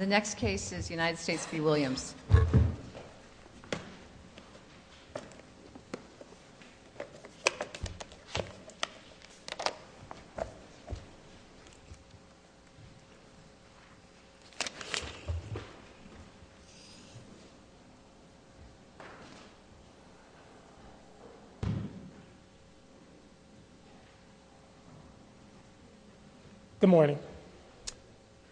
The next case is United States v. Williams. Good morning.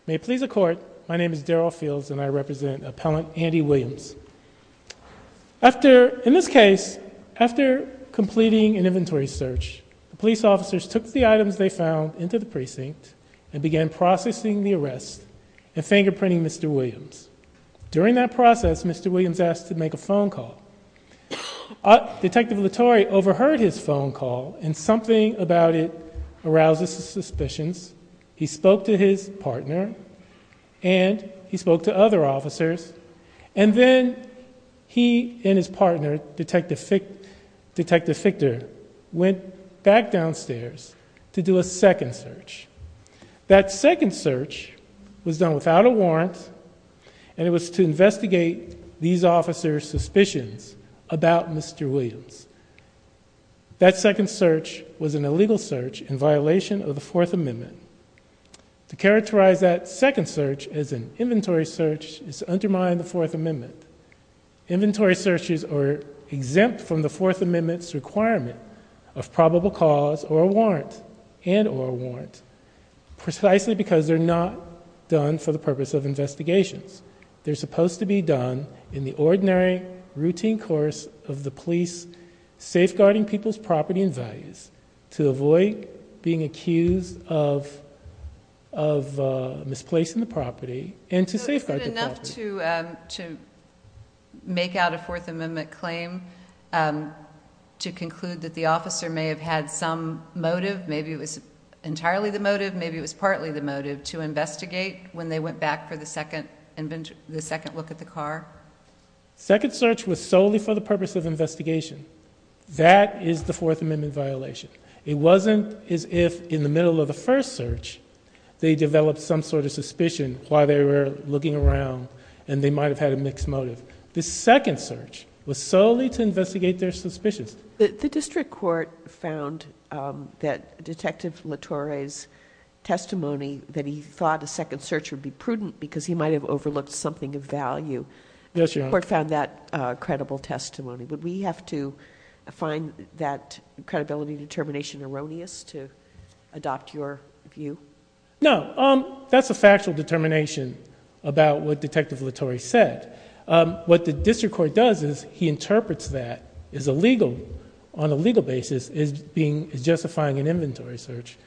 May it please the court, my name is Daryl Fields and I represent appellant Andy Williams. In this case, after completing an inventory search, the police officers took the items they found into the precinct and began processing the arrest and fingerprinting Mr. Williams. During that process, Mr. Williams asked to make a phone call. Detective Latore overheard his phone call and something about it arouses his suspicions. He spoke to his partner and he spoke to other officers and then he and his partner, Detective Fichter, went back downstairs to do a second search. That second search was done without a warrant and it was to investigate these officers' investigations. That second search was an illegal search in violation of the Fourth Amendment. To characterize that second search as an inventory search is to undermine the Fourth Amendment. Inventory searches are exempt from the Fourth Amendment's requirement of probable cause or a warrant and or a warrant precisely because they're not done for the purpose of investigations. They're supposed to be done in the ordinary, routine course of the police safeguarding people's property and values to avoid being accused of misplacing the property and to safeguard the property. So is it enough to make out a Fourth Amendment claim to conclude that the officer may have had some motive, maybe it was entirely the motive, maybe it was partly the motive to investigate when they went back for the second look at the car? Second search was solely for the purpose of investigation. That is the Fourth Amendment violation. It wasn't as if in the middle of the first search they developed some sort of suspicion why they were looking around and they might have had a mixed motive. The second search was solely to investigate their suspicions. The district court found that Detective Latorre's testimony that he thought a second search would be prudent because he might have overlooked something of value. The district court found that credible testimony. Would we have to find that credibility determination erroneous to adopt your view? No, that's a factual determination about what Detective Latorre said. What the district court does is he interprets that as a legal, on a legal basis, as justifying an inventory search,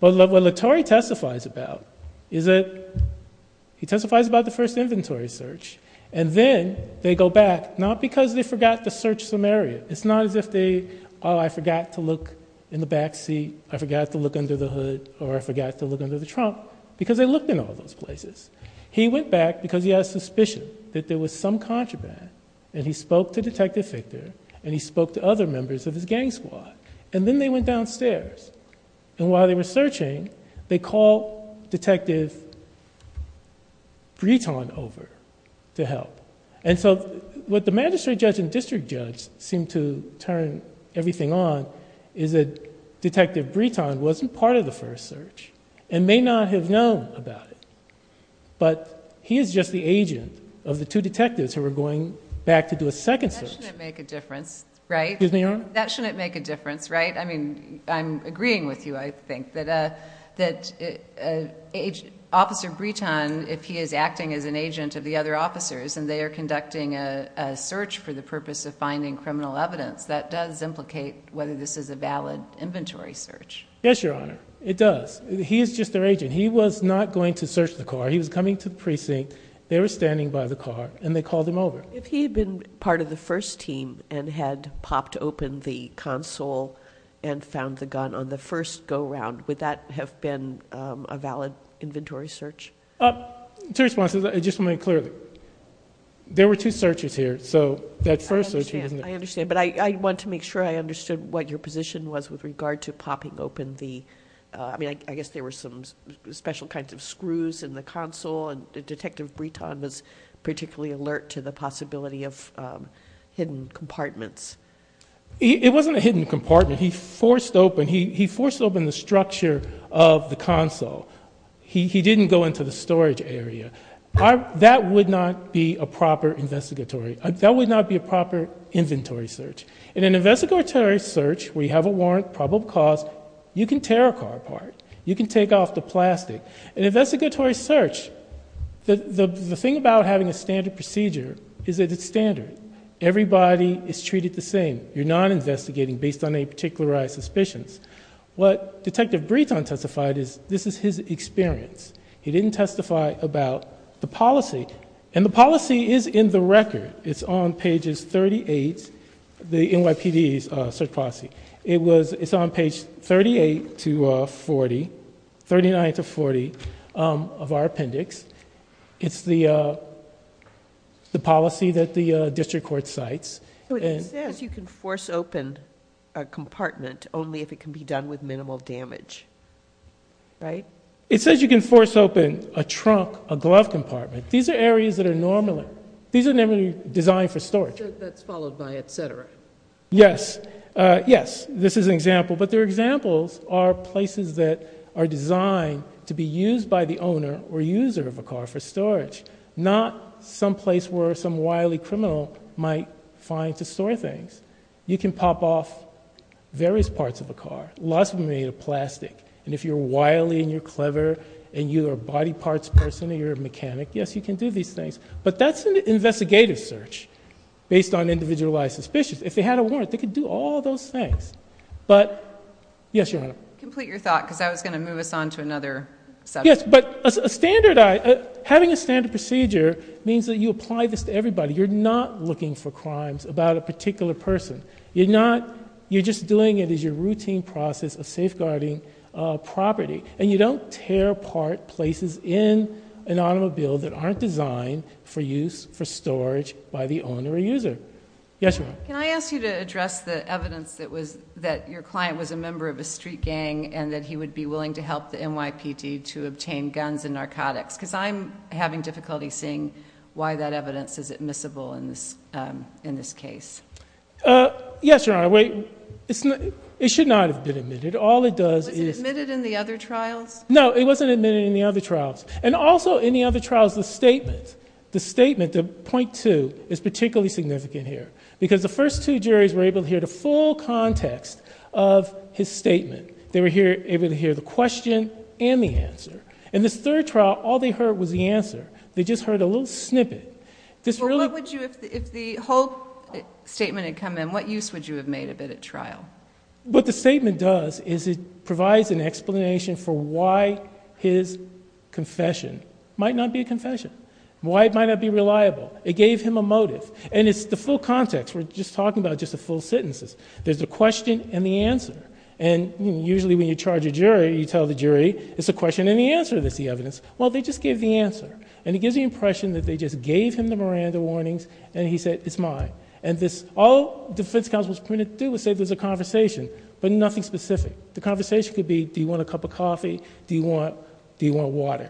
but what Latorre testifies about is that he testifies about the first inventory search and then they go back, not because they forgot to search some area. It's not as if they, oh I forgot to look in the backseat, I forgot to look under the hood or I forgot to look under the trunk, because they looked in all those places. He went back because he had a suspicion that there was some contraband and he spoke to Detective Fichter and he spoke to other members of his gang squad and then they went downstairs and while they were searching, they called Detective Breton over to help. What the magistrate judge and district judge seemed to turn everything on is that Detective Fichter is just the agent of the two detectives who were going back to do a second search. That shouldn't make a difference, right? That shouldn't make a difference, right? I'm agreeing with you, I think, that Officer Breton, if he is acting as an agent of the other officers and they are conducting a search for the purpose of finding criminal evidence, that does implicate whether this is a valid inventory search. He is just their agent. He was not going to search the car, he was coming to the precinct, they were standing by the car and they called him over. If he had been part of the first team and had popped open the console and found the gun on the first go-round, would that have been a valid inventory search? Two responses, just to make it clear. There were two searches here, so that first search he was in. I understand, but I want to make sure I understood what your position was with regard to popping open the, I mean, I guess there were some special kinds of screws in the console and Detective Breton was particularly alert to the possibility of hidden compartments. It wasn't a hidden compartment, he forced open the structure of the console. He didn't go into the storage area. That would not be a proper investigatory, that would not be a proper inventory search. In an investigatory search, we have a warrant, probable cause, you can tear a car apart. You can take off the plastic. In an investigatory search, the thing about having a standard procedure is that it's standard. Everybody is treated the same. You're not investigating based on any particularized suspicions. What Detective Breton testified is, this is his experience. He didn't testify about the policy, and the policy is in the record. It's on pages 38, the NYPD's search policy. It's on page 38 to 40, 39 to 40 of our appendix. It's the policy that the district court cites. It says you can force open a compartment only if it can be done with minimal damage, right? It says you can force open a trunk, a glove compartment. These are areas that are normal. These are never designed for storage. That's followed by et cetera. Yes, yes, this is an example, but their examples are places that are designed to be used by the owner or user of a car for storage. Not some place where some wily criminal might find to store things. You can pop off various parts of a car, lots of them made of plastic. And if you're wily and you're clever, and you're a body parts person or you're a mechanic, yes, you can do these things. But that's an investigative search based on individualized suspicions. If they had a warrant, they could do all those things. But, yes, your honor. Complete your thought, because I was going to move us on to another subject. Yes, but having a standard procedure means that you apply this to everybody. You're not looking for crimes about a particular person. You're just doing it as your routine process of safeguarding property. And you don't tear apart places in an automobile that aren't designed for use for storage by the owner or user. Yes, your honor. Can I ask you to address the evidence that your client was a member of a street gang and that he would be willing to help the NYPD to obtain guns and narcotics? because I'm having difficulty seeing why that evidence is admissible in this case. Yes, your honor. Wait, it should not have been admitted. All it does is- Was it admitted in the other trials? No, it wasn't admitted in the other trials. And also, in the other trials, the statement, the statement, the point two, is particularly significant here. Because the first two juries were able to hear the full context of his statement. They were able to hear the question and the answer. In this third trial, all they heard was the answer. They just heard a little snippet. If the whole statement had come in, what use would you have made of it at trial? What the statement does is it provides an explanation for why his confession might not be a confession. Why it might not be reliable. It gave him a motive. And it's the full context. We're just talking about just the full sentences. There's the question and the answer. And usually when you charge a jury, you tell the jury, it's the question and the answer that's the evidence. Well, they just gave the answer. And it gives the impression that they just gave him the Miranda warnings and he said, it's mine. And this, all defense counsel was permitted to do was say there's a conversation, but nothing specific. The conversation could be, do you want a cup of coffee? Do you want water?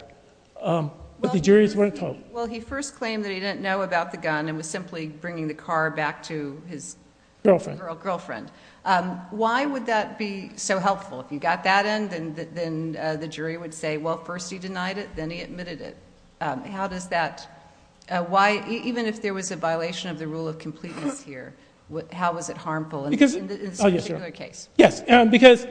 But the jury's weren't told. Well, he first claimed that he didn't know about the gun and was simply bringing the car back to his- Girlfriend. Girlfriend. Why would that be so helpful? If you got that in, then the jury would say, well, first he denied it, then he admitted it. How does that, why, even if there was a violation of the rule of completeness here, how was it harmful in this particular case? Yes, because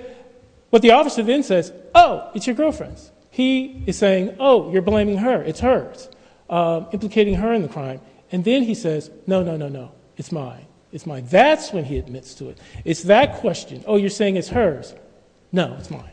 what the officer then says, oh, it's your girlfriend's. He is saying, oh, you're blaming her, it's hers, implicating her in the crime. And then he says, no, no, no, no, it's mine, it's mine. That's when he admits to it. It's that question, oh, you're saying it's hers. No, it's mine.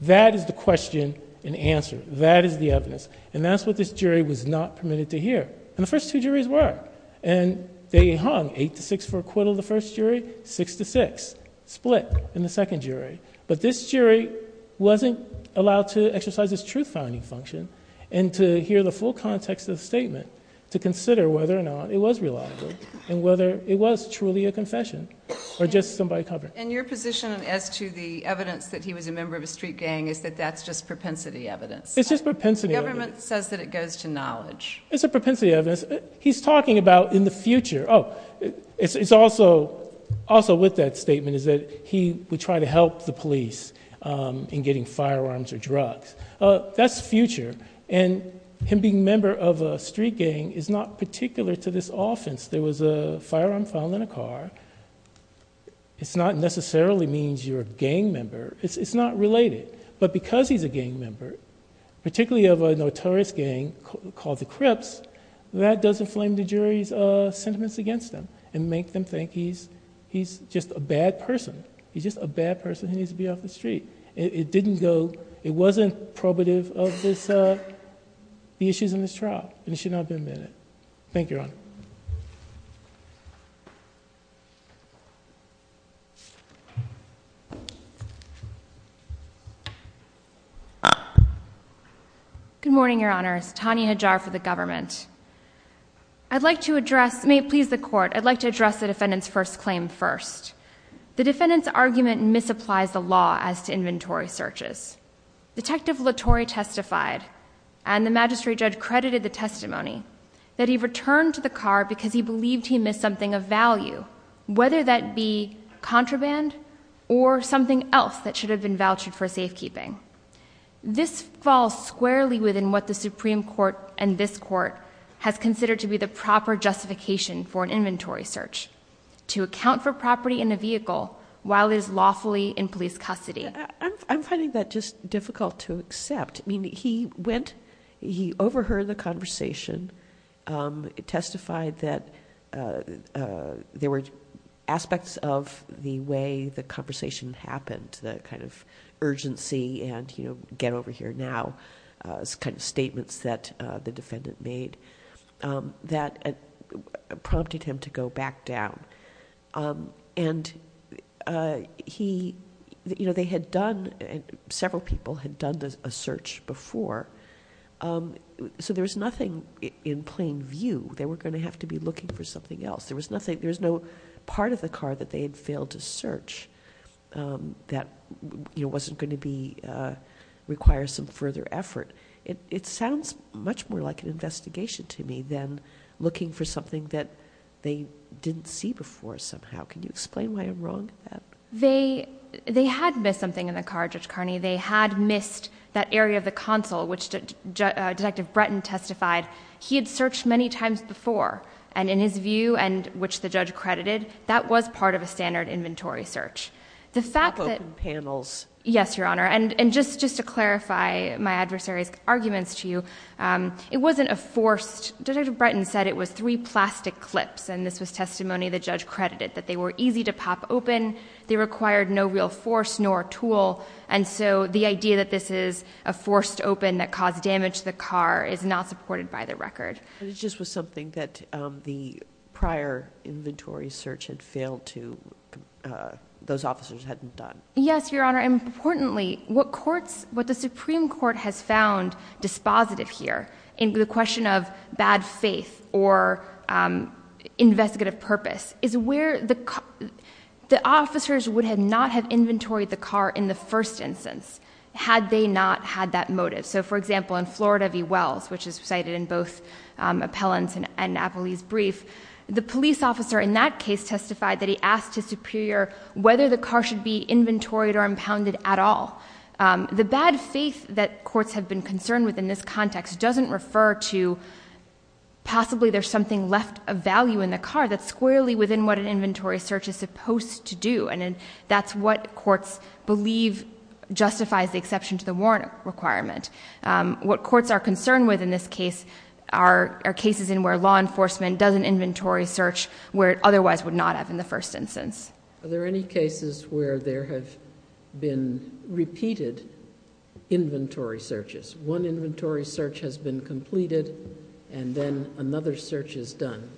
That is the question and answer. That is the evidence. And that's what this jury was not permitted to hear. And the first two juries were. And they hung eight to six for acquittal, the first jury, six to six, split in the second jury. But this jury wasn't allowed to exercise its truth finding function and to hear the full context of the statement to consider whether or not it was reliable. And whether it was truly a confession or just somebody covering. And your position as to the evidence that he was a member of a street gang is that that's just propensity evidence. It's just propensity evidence. The government says that it goes to knowledge. It's a propensity evidence. He's talking about in the future. Oh, it's also with that statement is that he would try to help the police in getting firearms or drugs. That's future. And him being a member of a street gang is not particular to this offense. There was a firearm found in a car. It's not necessarily means you're a gang member. It's not related. But because he's a gang member, particularly of a notorious gang called the Crips, that doesn't flame the jury's sentiments against him and make them think he's just a bad person. He's just a bad person. He needs to be off the street. It didn't go, it wasn't probative of this, the issues in this trial. And it should not have been in it. Thank you, Your Honor. Good morning, Your Honors. Tanya Hajar for the government. I'd like to address, may it please the court, I'd like to address the defendant's first claim first. The defendant's argument misapplies the law as to inventory searches. Detective Latore testified, and the magistrate judge credited the testimony, that he returned to the car because he believed he missed something of value. Whether that be contraband or something else that should have been vouched for safekeeping. This falls squarely within what the Supreme Court and this court has considered to be the proper justification for an inventory search. To account for property in a vehicle while it is lawfully in police custody. I'm finding that just difficult to accept. I mean, he went, he overheard the conversation. It testified that there were aspects of the way the conversation happened. The kind of urgency and, you know, get over here now. It's kind of statements that the defendant made that prompted him to go back down. And he, you know, they had done, several people had done a search before. So there's nothing in plain view. They were going to have to be looking for something else. There was nothing, there was no part of the car that they had failed to search. That, you know, wasn't going to be, require some further effort. It, it sounds much more like an investigation to me than looking for something that they didn't see before somehow. Can you explain why I'm wrong? They, they had missed something in the car, Judge Carney. They had missed that area of the console, which Detective Breton testified. He had searched many times before. And in his view, and which the judge credited, that was part of a standard inventory search. The fact that- Pop open panels. Yes, your honor. And, and just, just to clarify my adversary's arguments to you. It wasn't a forced, Detective Breton said it was three plastic clips. And this was testimony the judge credited, that they were easy to pop open. They required no real force nor tool. And so the idea that this is a forced open that caused damage to the car is not supported by the record. But it just was something that the prior inventory search had failed to those officers hadn't done. Yes, your honor. And importantly, what courts, what the Supreme Court has found dispositive here, in the question of bad faith or investigative purpose, is where the, the officers would have not have inventoried the car in the first instance, had they not had that motive. So for example, in Florida v. Wells, which is cited in both appellants and, and Napoli's brief. The police officer in that case testified that he asked his superior whether the car should be inventoried or impounded at all. The bad faith that courts have been concerned with in this context doesn't refer to possibly there's something left of value in the car that's squarely within what an inventory search is supposed to do. And that's what courts believe justifies the exception to the warrant requirement. What courts are concerned with in this case are cases in where law enforcement does an inventory search where it otherwise would not have in the first instance. Are there any cases where there have been repeated inventory searches? One inventory search has been completed and then another search is done.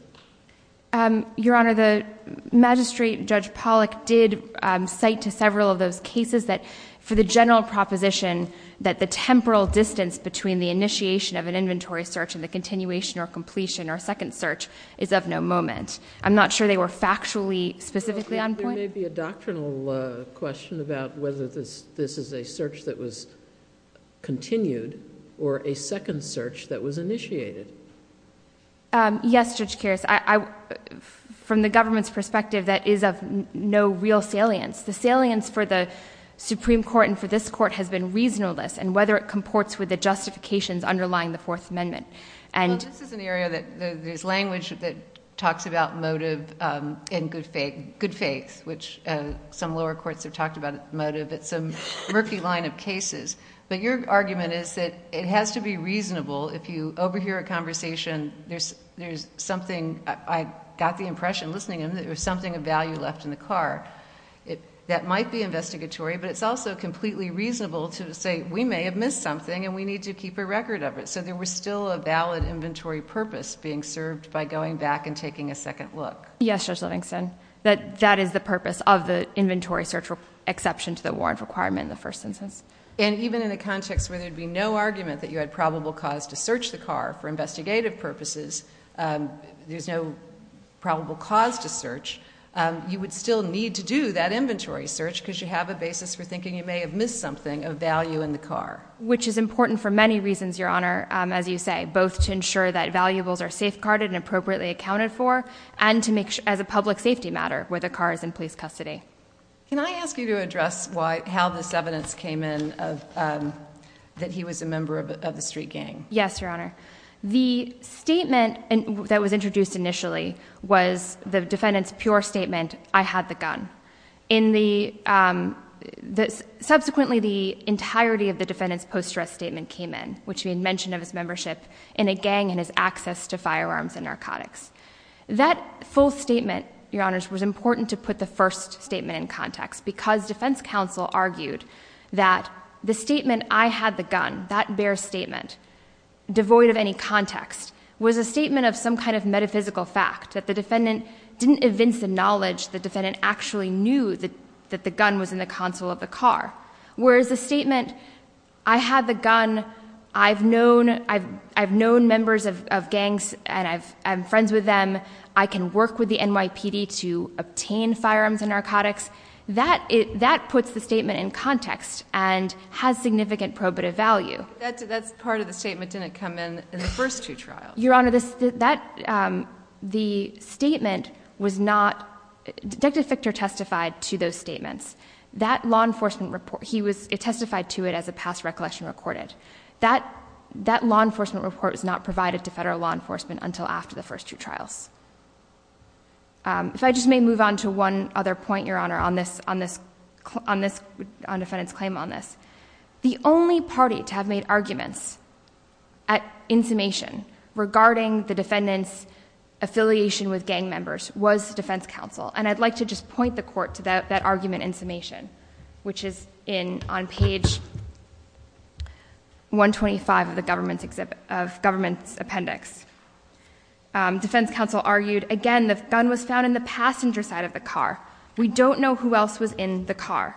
Your Honor, the magistrate, Judge Pollack, did cite to several of those cases that for the general proposition that the temporal distance between the initiation of an inventory search and the continuation or completion or second search is of no moment. I'm not sure they were factually specifically on point. There may be a doctrinal question about whether this is a search that was continued or a second search that was initiated. Yes, Judge Karras, from the government's perspective, that is of no real salience. The salience for the Supreme Court and for this court has been reasonableness and whether it comports with the justifications underlying the Fourth Amendment. This is an area that there's language that talks about motive and good faith, which some lower courts have talked about motive, it's a murky line of cases. But your argument is that it has to be reasonable if you overhear a conversation, there's something, I got the impression listening in, that there's something of value left in the car. That might be investigatory, but it's also completely reasonable to say we may have missed something and we need to keep a record of it. So there was still a valid inventory purpose being served by going back and taking a second look. Yes, Judge Livingston, that is the purpose of the inventory search exception to the warrant requirement in the first instance. And even in the context where there'd be no argument that you had probable cause to search the car for investigative purposes, there's no probable cause to search. You would still need to do that inventory search because you have a basis for thinking you may have missed something of value in the car. Which is important for many reasons, Your Honor, as you say, both to ensure that valuables are safeguarded and appropriately accounted for, and as a public safety matter, where the car is in police custody. Can I ask you to address how this evidence came in, that he was a member of the street gang? Yes, Your Honor. The statement that was introduced initially was the defendant's pure statement, I had the gun. Subsequently, the entirety of the defendant's post-dress statement came in, which we had mentioned of his membership in a gang and his access to firearms and narcotics. That full statement, Your Honors, was important to put the first statement in context. Because defense counsel argued that the statement, I had the gun, that bare statement, devoid of any context, was a statement of some kind of metaphysical fact. That the defendant didn't evince the knowledge, the defendant actually knew that the gun was in the console of the car. Whereas the statement, I had the gun, I've known members of gangs and I'm friends with them. I can work with the NYPD to obtain firearms and narcotics. That puts the statement in context and has significant probative value. That part of the statement didn't come in in the first two trials. Your Honor, the statement was not, Detective Fichter testified to those statements. That law enforcement report, he testified to it as a past recollection recorded. That law enforcement report was not provided to federal law enforcement until after the first two trials. If I just may move on to one other point, Your Honor, on defendant's claim on this. The only party to have made arguments at insummation regarding the defendant's affiliation with gang members was defense counsel, and I'd like to just point the court to that argument in summation. Which is on page 125 of the government's appendix. Defense counsel argued, again, the gun was found in the passenger side of the car. We don't know who else was in the car.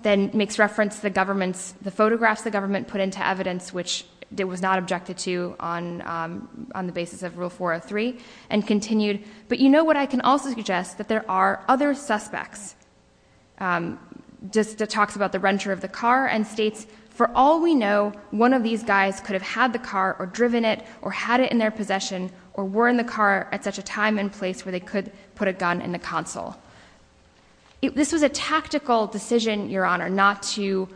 Then makes reference to the government's, the photographs the government put into evidence, which it was not objected to on the basis of rule 403. And continued, but you know what, I can also suggest that there are other suspects. Just talks about the renter of the car and states, for all we know, one of these guys could have had the car or driven it or had it in their possession or were in the car at such a time and place where they could put a gun in the console. This was a tactical decision, Your Honor, not to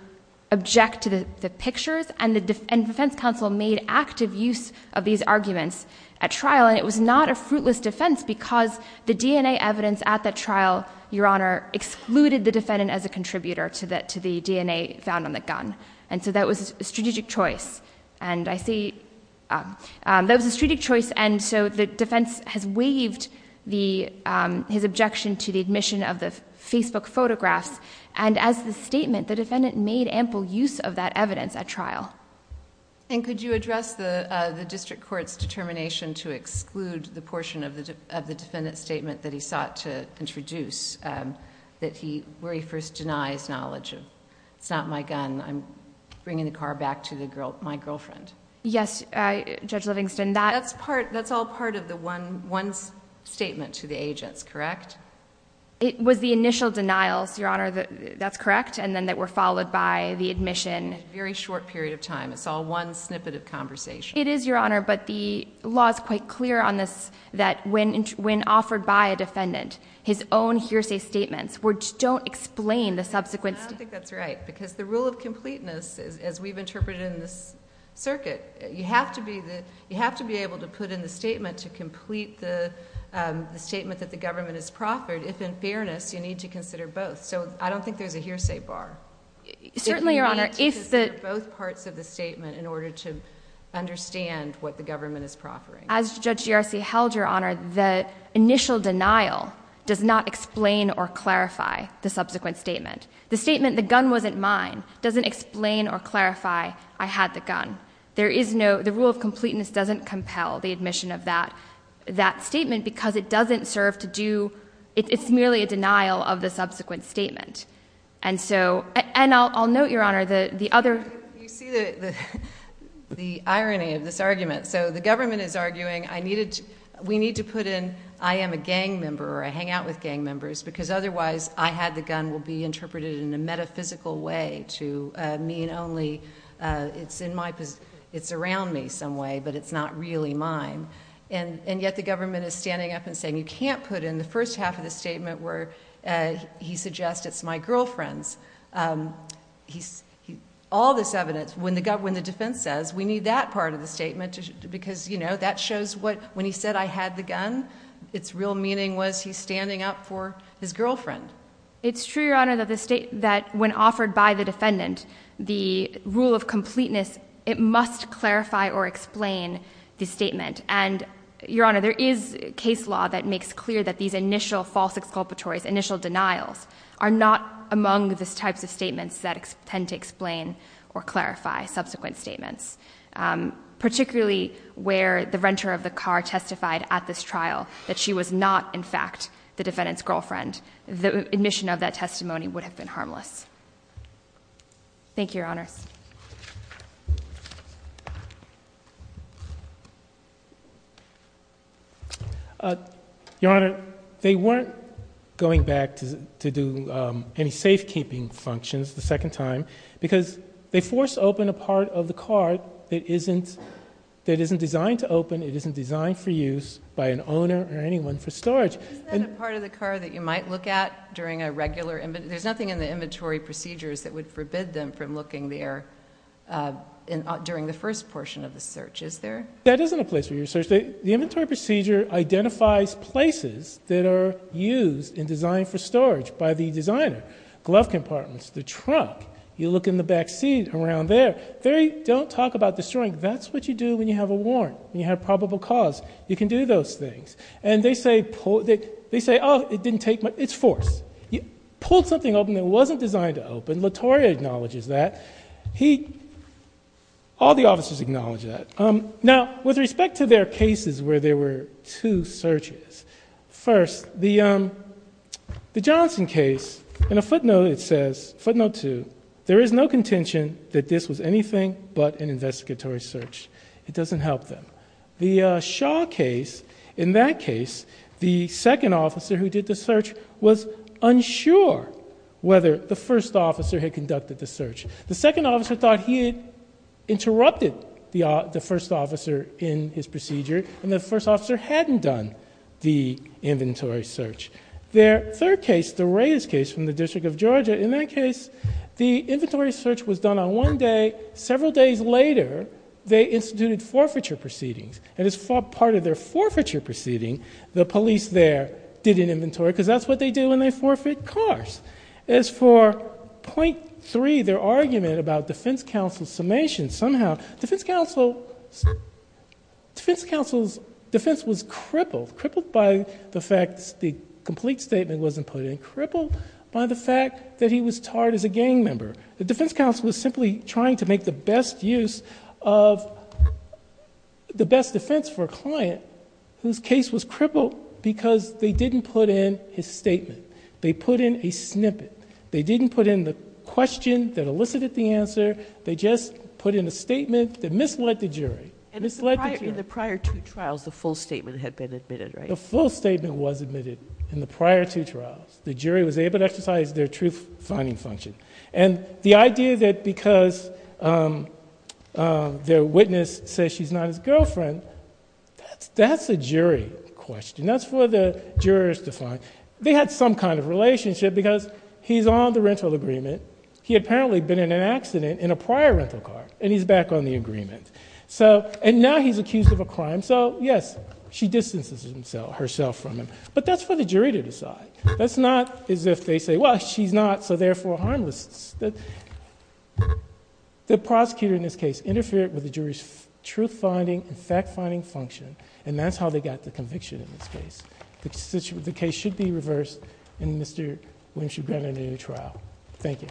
object to the pictures. And defense counsel made active use of these arguments at trial. And it was not a fruitless defense because the DNA evidence at the trial, Your Honor, excluded the defendant as a contributor to the DNA found on the gun. And so that was a strategic choice. And I see, that was a strategic choice and so the defense has waived his objection to the admission of the Facebook photographs. And as the statement, the defendant made ample use of that evidence at trial. And could you address the district court's determination to exclude the portion of the defendant's statement that he sought to introduce? That he, where he first denies knowledge of, it's not my gun, I'm bringing the car back to my girlfriend. Yes, Judge Livingston, that's part, that's all part of the one statement to the agents, correct? It was the initial denials, Your Honor, that's correct, and then that were followed by the admission. Very short period of time, it's all one snippet of conversation. It is, Your Honor, but the law is quite clear on this, that when offered by a defendant, his own hearsay statements which don't explain the subsequent- I don't think that's right, because the rule of completeness, as we've interpreted in this circuit, you have to be able to put in the statement to complete the statement that the government has proffered. If in fairness, you need to consider both, so I don't think there's a hearsay bar. Certainly, Your Honor, if the- Both parts of the statement in order to understand what the government is proffering. As Judge Garcia held, Your Honor, the initial denial does not explain or clarify the subsequent statement. The statement, the gun wasn't mine, doesn't explain or clarify I had the gun. There is no, the rule of completeness doesn't compel the admission of that statement, because it doesn't serve to do, it's merely a denial of the subsequent statement. And so, and I'll note, Your Honor, the other- You see the irony of this argument. So the government is arguing, we need to put in, I am a gang member, or I had the gun will be interpreted in a metaphysical way to mean only, it's in my, it's around me some way, but it's not really mine. And yet the government is standing up and saying, you can't put in the first half of the statement where he suggests it's my girlfriend's. All this evidence, when the defense says, we need that part of the statement, because that shows what, when he said I had the gun, it's real meaning was he's standing up for his girlfriend. It's true, Your Honor, that the state, that when offered by the defendant, the rule of completeness, it must clarify or explain the statement. And, Your Honor, there is case law that makes clear that these initial false exculpatories, initial denials, are not among the types of statements that tend to explain or clarify subsequent statements. Particularly where the renter of the car testified at this trial that she was not, in fact, the defendant's girlfriend. The admission of that testimony would have been harmless. Thank you, Your Honors. Your Honor, they weren't going back to do any safekeeping functions the second time, because they forced open a part of the car that isn't designed to open, it isn't designed for use by an owner or anyone for storage. Isn't that a part of the car that you might look at during a regular, there's nothing in the inventory procedures that would forbid them from looking there during the first portion of the search, is there? That isn't a place for you to search. The inventory procedure identifies places that are used and designed for storage by the designer. Glove compartments, the truck, you look in the back seat around there, don't talk about destroying. That's what you do when you have a warrant, when you have probable cause. You can do those things. And they say, oh, it didn't take much. It's forced. You pulled something open that wasn't designed to open. Latoria acknowledges that. He, all the officers acknowledge that. Now, with respect to their cases where there were two searches. First, the Johnson case, in a footnote it says, footnote two, there is no contention that this was anything but an investigatory search. It doesn't help them. The Shaw case, in that case, the second officer who did the search was unsure whether the first officer had conducted the search. The second officer thought he had interrupted the first officer in his procedure and the first officer hadn't done the inventory search. Their third case, the Reyes case from the District of Georgia, in that case, the inventory search was done on one day. Several days later, they instituted forfeiture proceedings. And as part of their forfeiture proceeding, the police there did an inventory, because that's what they do when they forfeit cars. As for point three, their argument about defense counsel's summation, somehow, defense counsel's defense was crippled. Crippled by the fact the complete statement wasn't put in. Crippled by the fact that he was tarred as a gang member. The defense counsel was simply trying to make the best use of the best defense for a client whose case was crippled because they didn't put in his statement. They put in a snippet. They didn't put in the question that elicited the answer. They just put in a statement that misled the jury. Misled the jury. In the prior two trials, the full statement had been admitted, right? The full statement was admitted in the prior two trials. The jury was able to exercise their truth-finding function. And the idea that because their witness says she's not his girlfriend, that's a jury question, that's for the jurors to find. They had some kind of relationship because he's on the rental agreement. He had apparently been in an accident in a prior rental car, and he's back on the agreement. So, and now he's accused of a crime. So, yes, she distances herself from him. But that's for the jury to decide. That's not as if they say, well, she's not, so therefore, harmless. The prosecutor in this case interfered with the jury's truth-finding and fact-finding function, and that's how they got the conviction in this case. The case should be reversed in Mr. Winchester-Brenner new trial. Thank you.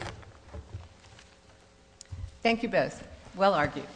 Thank you both. Well argued.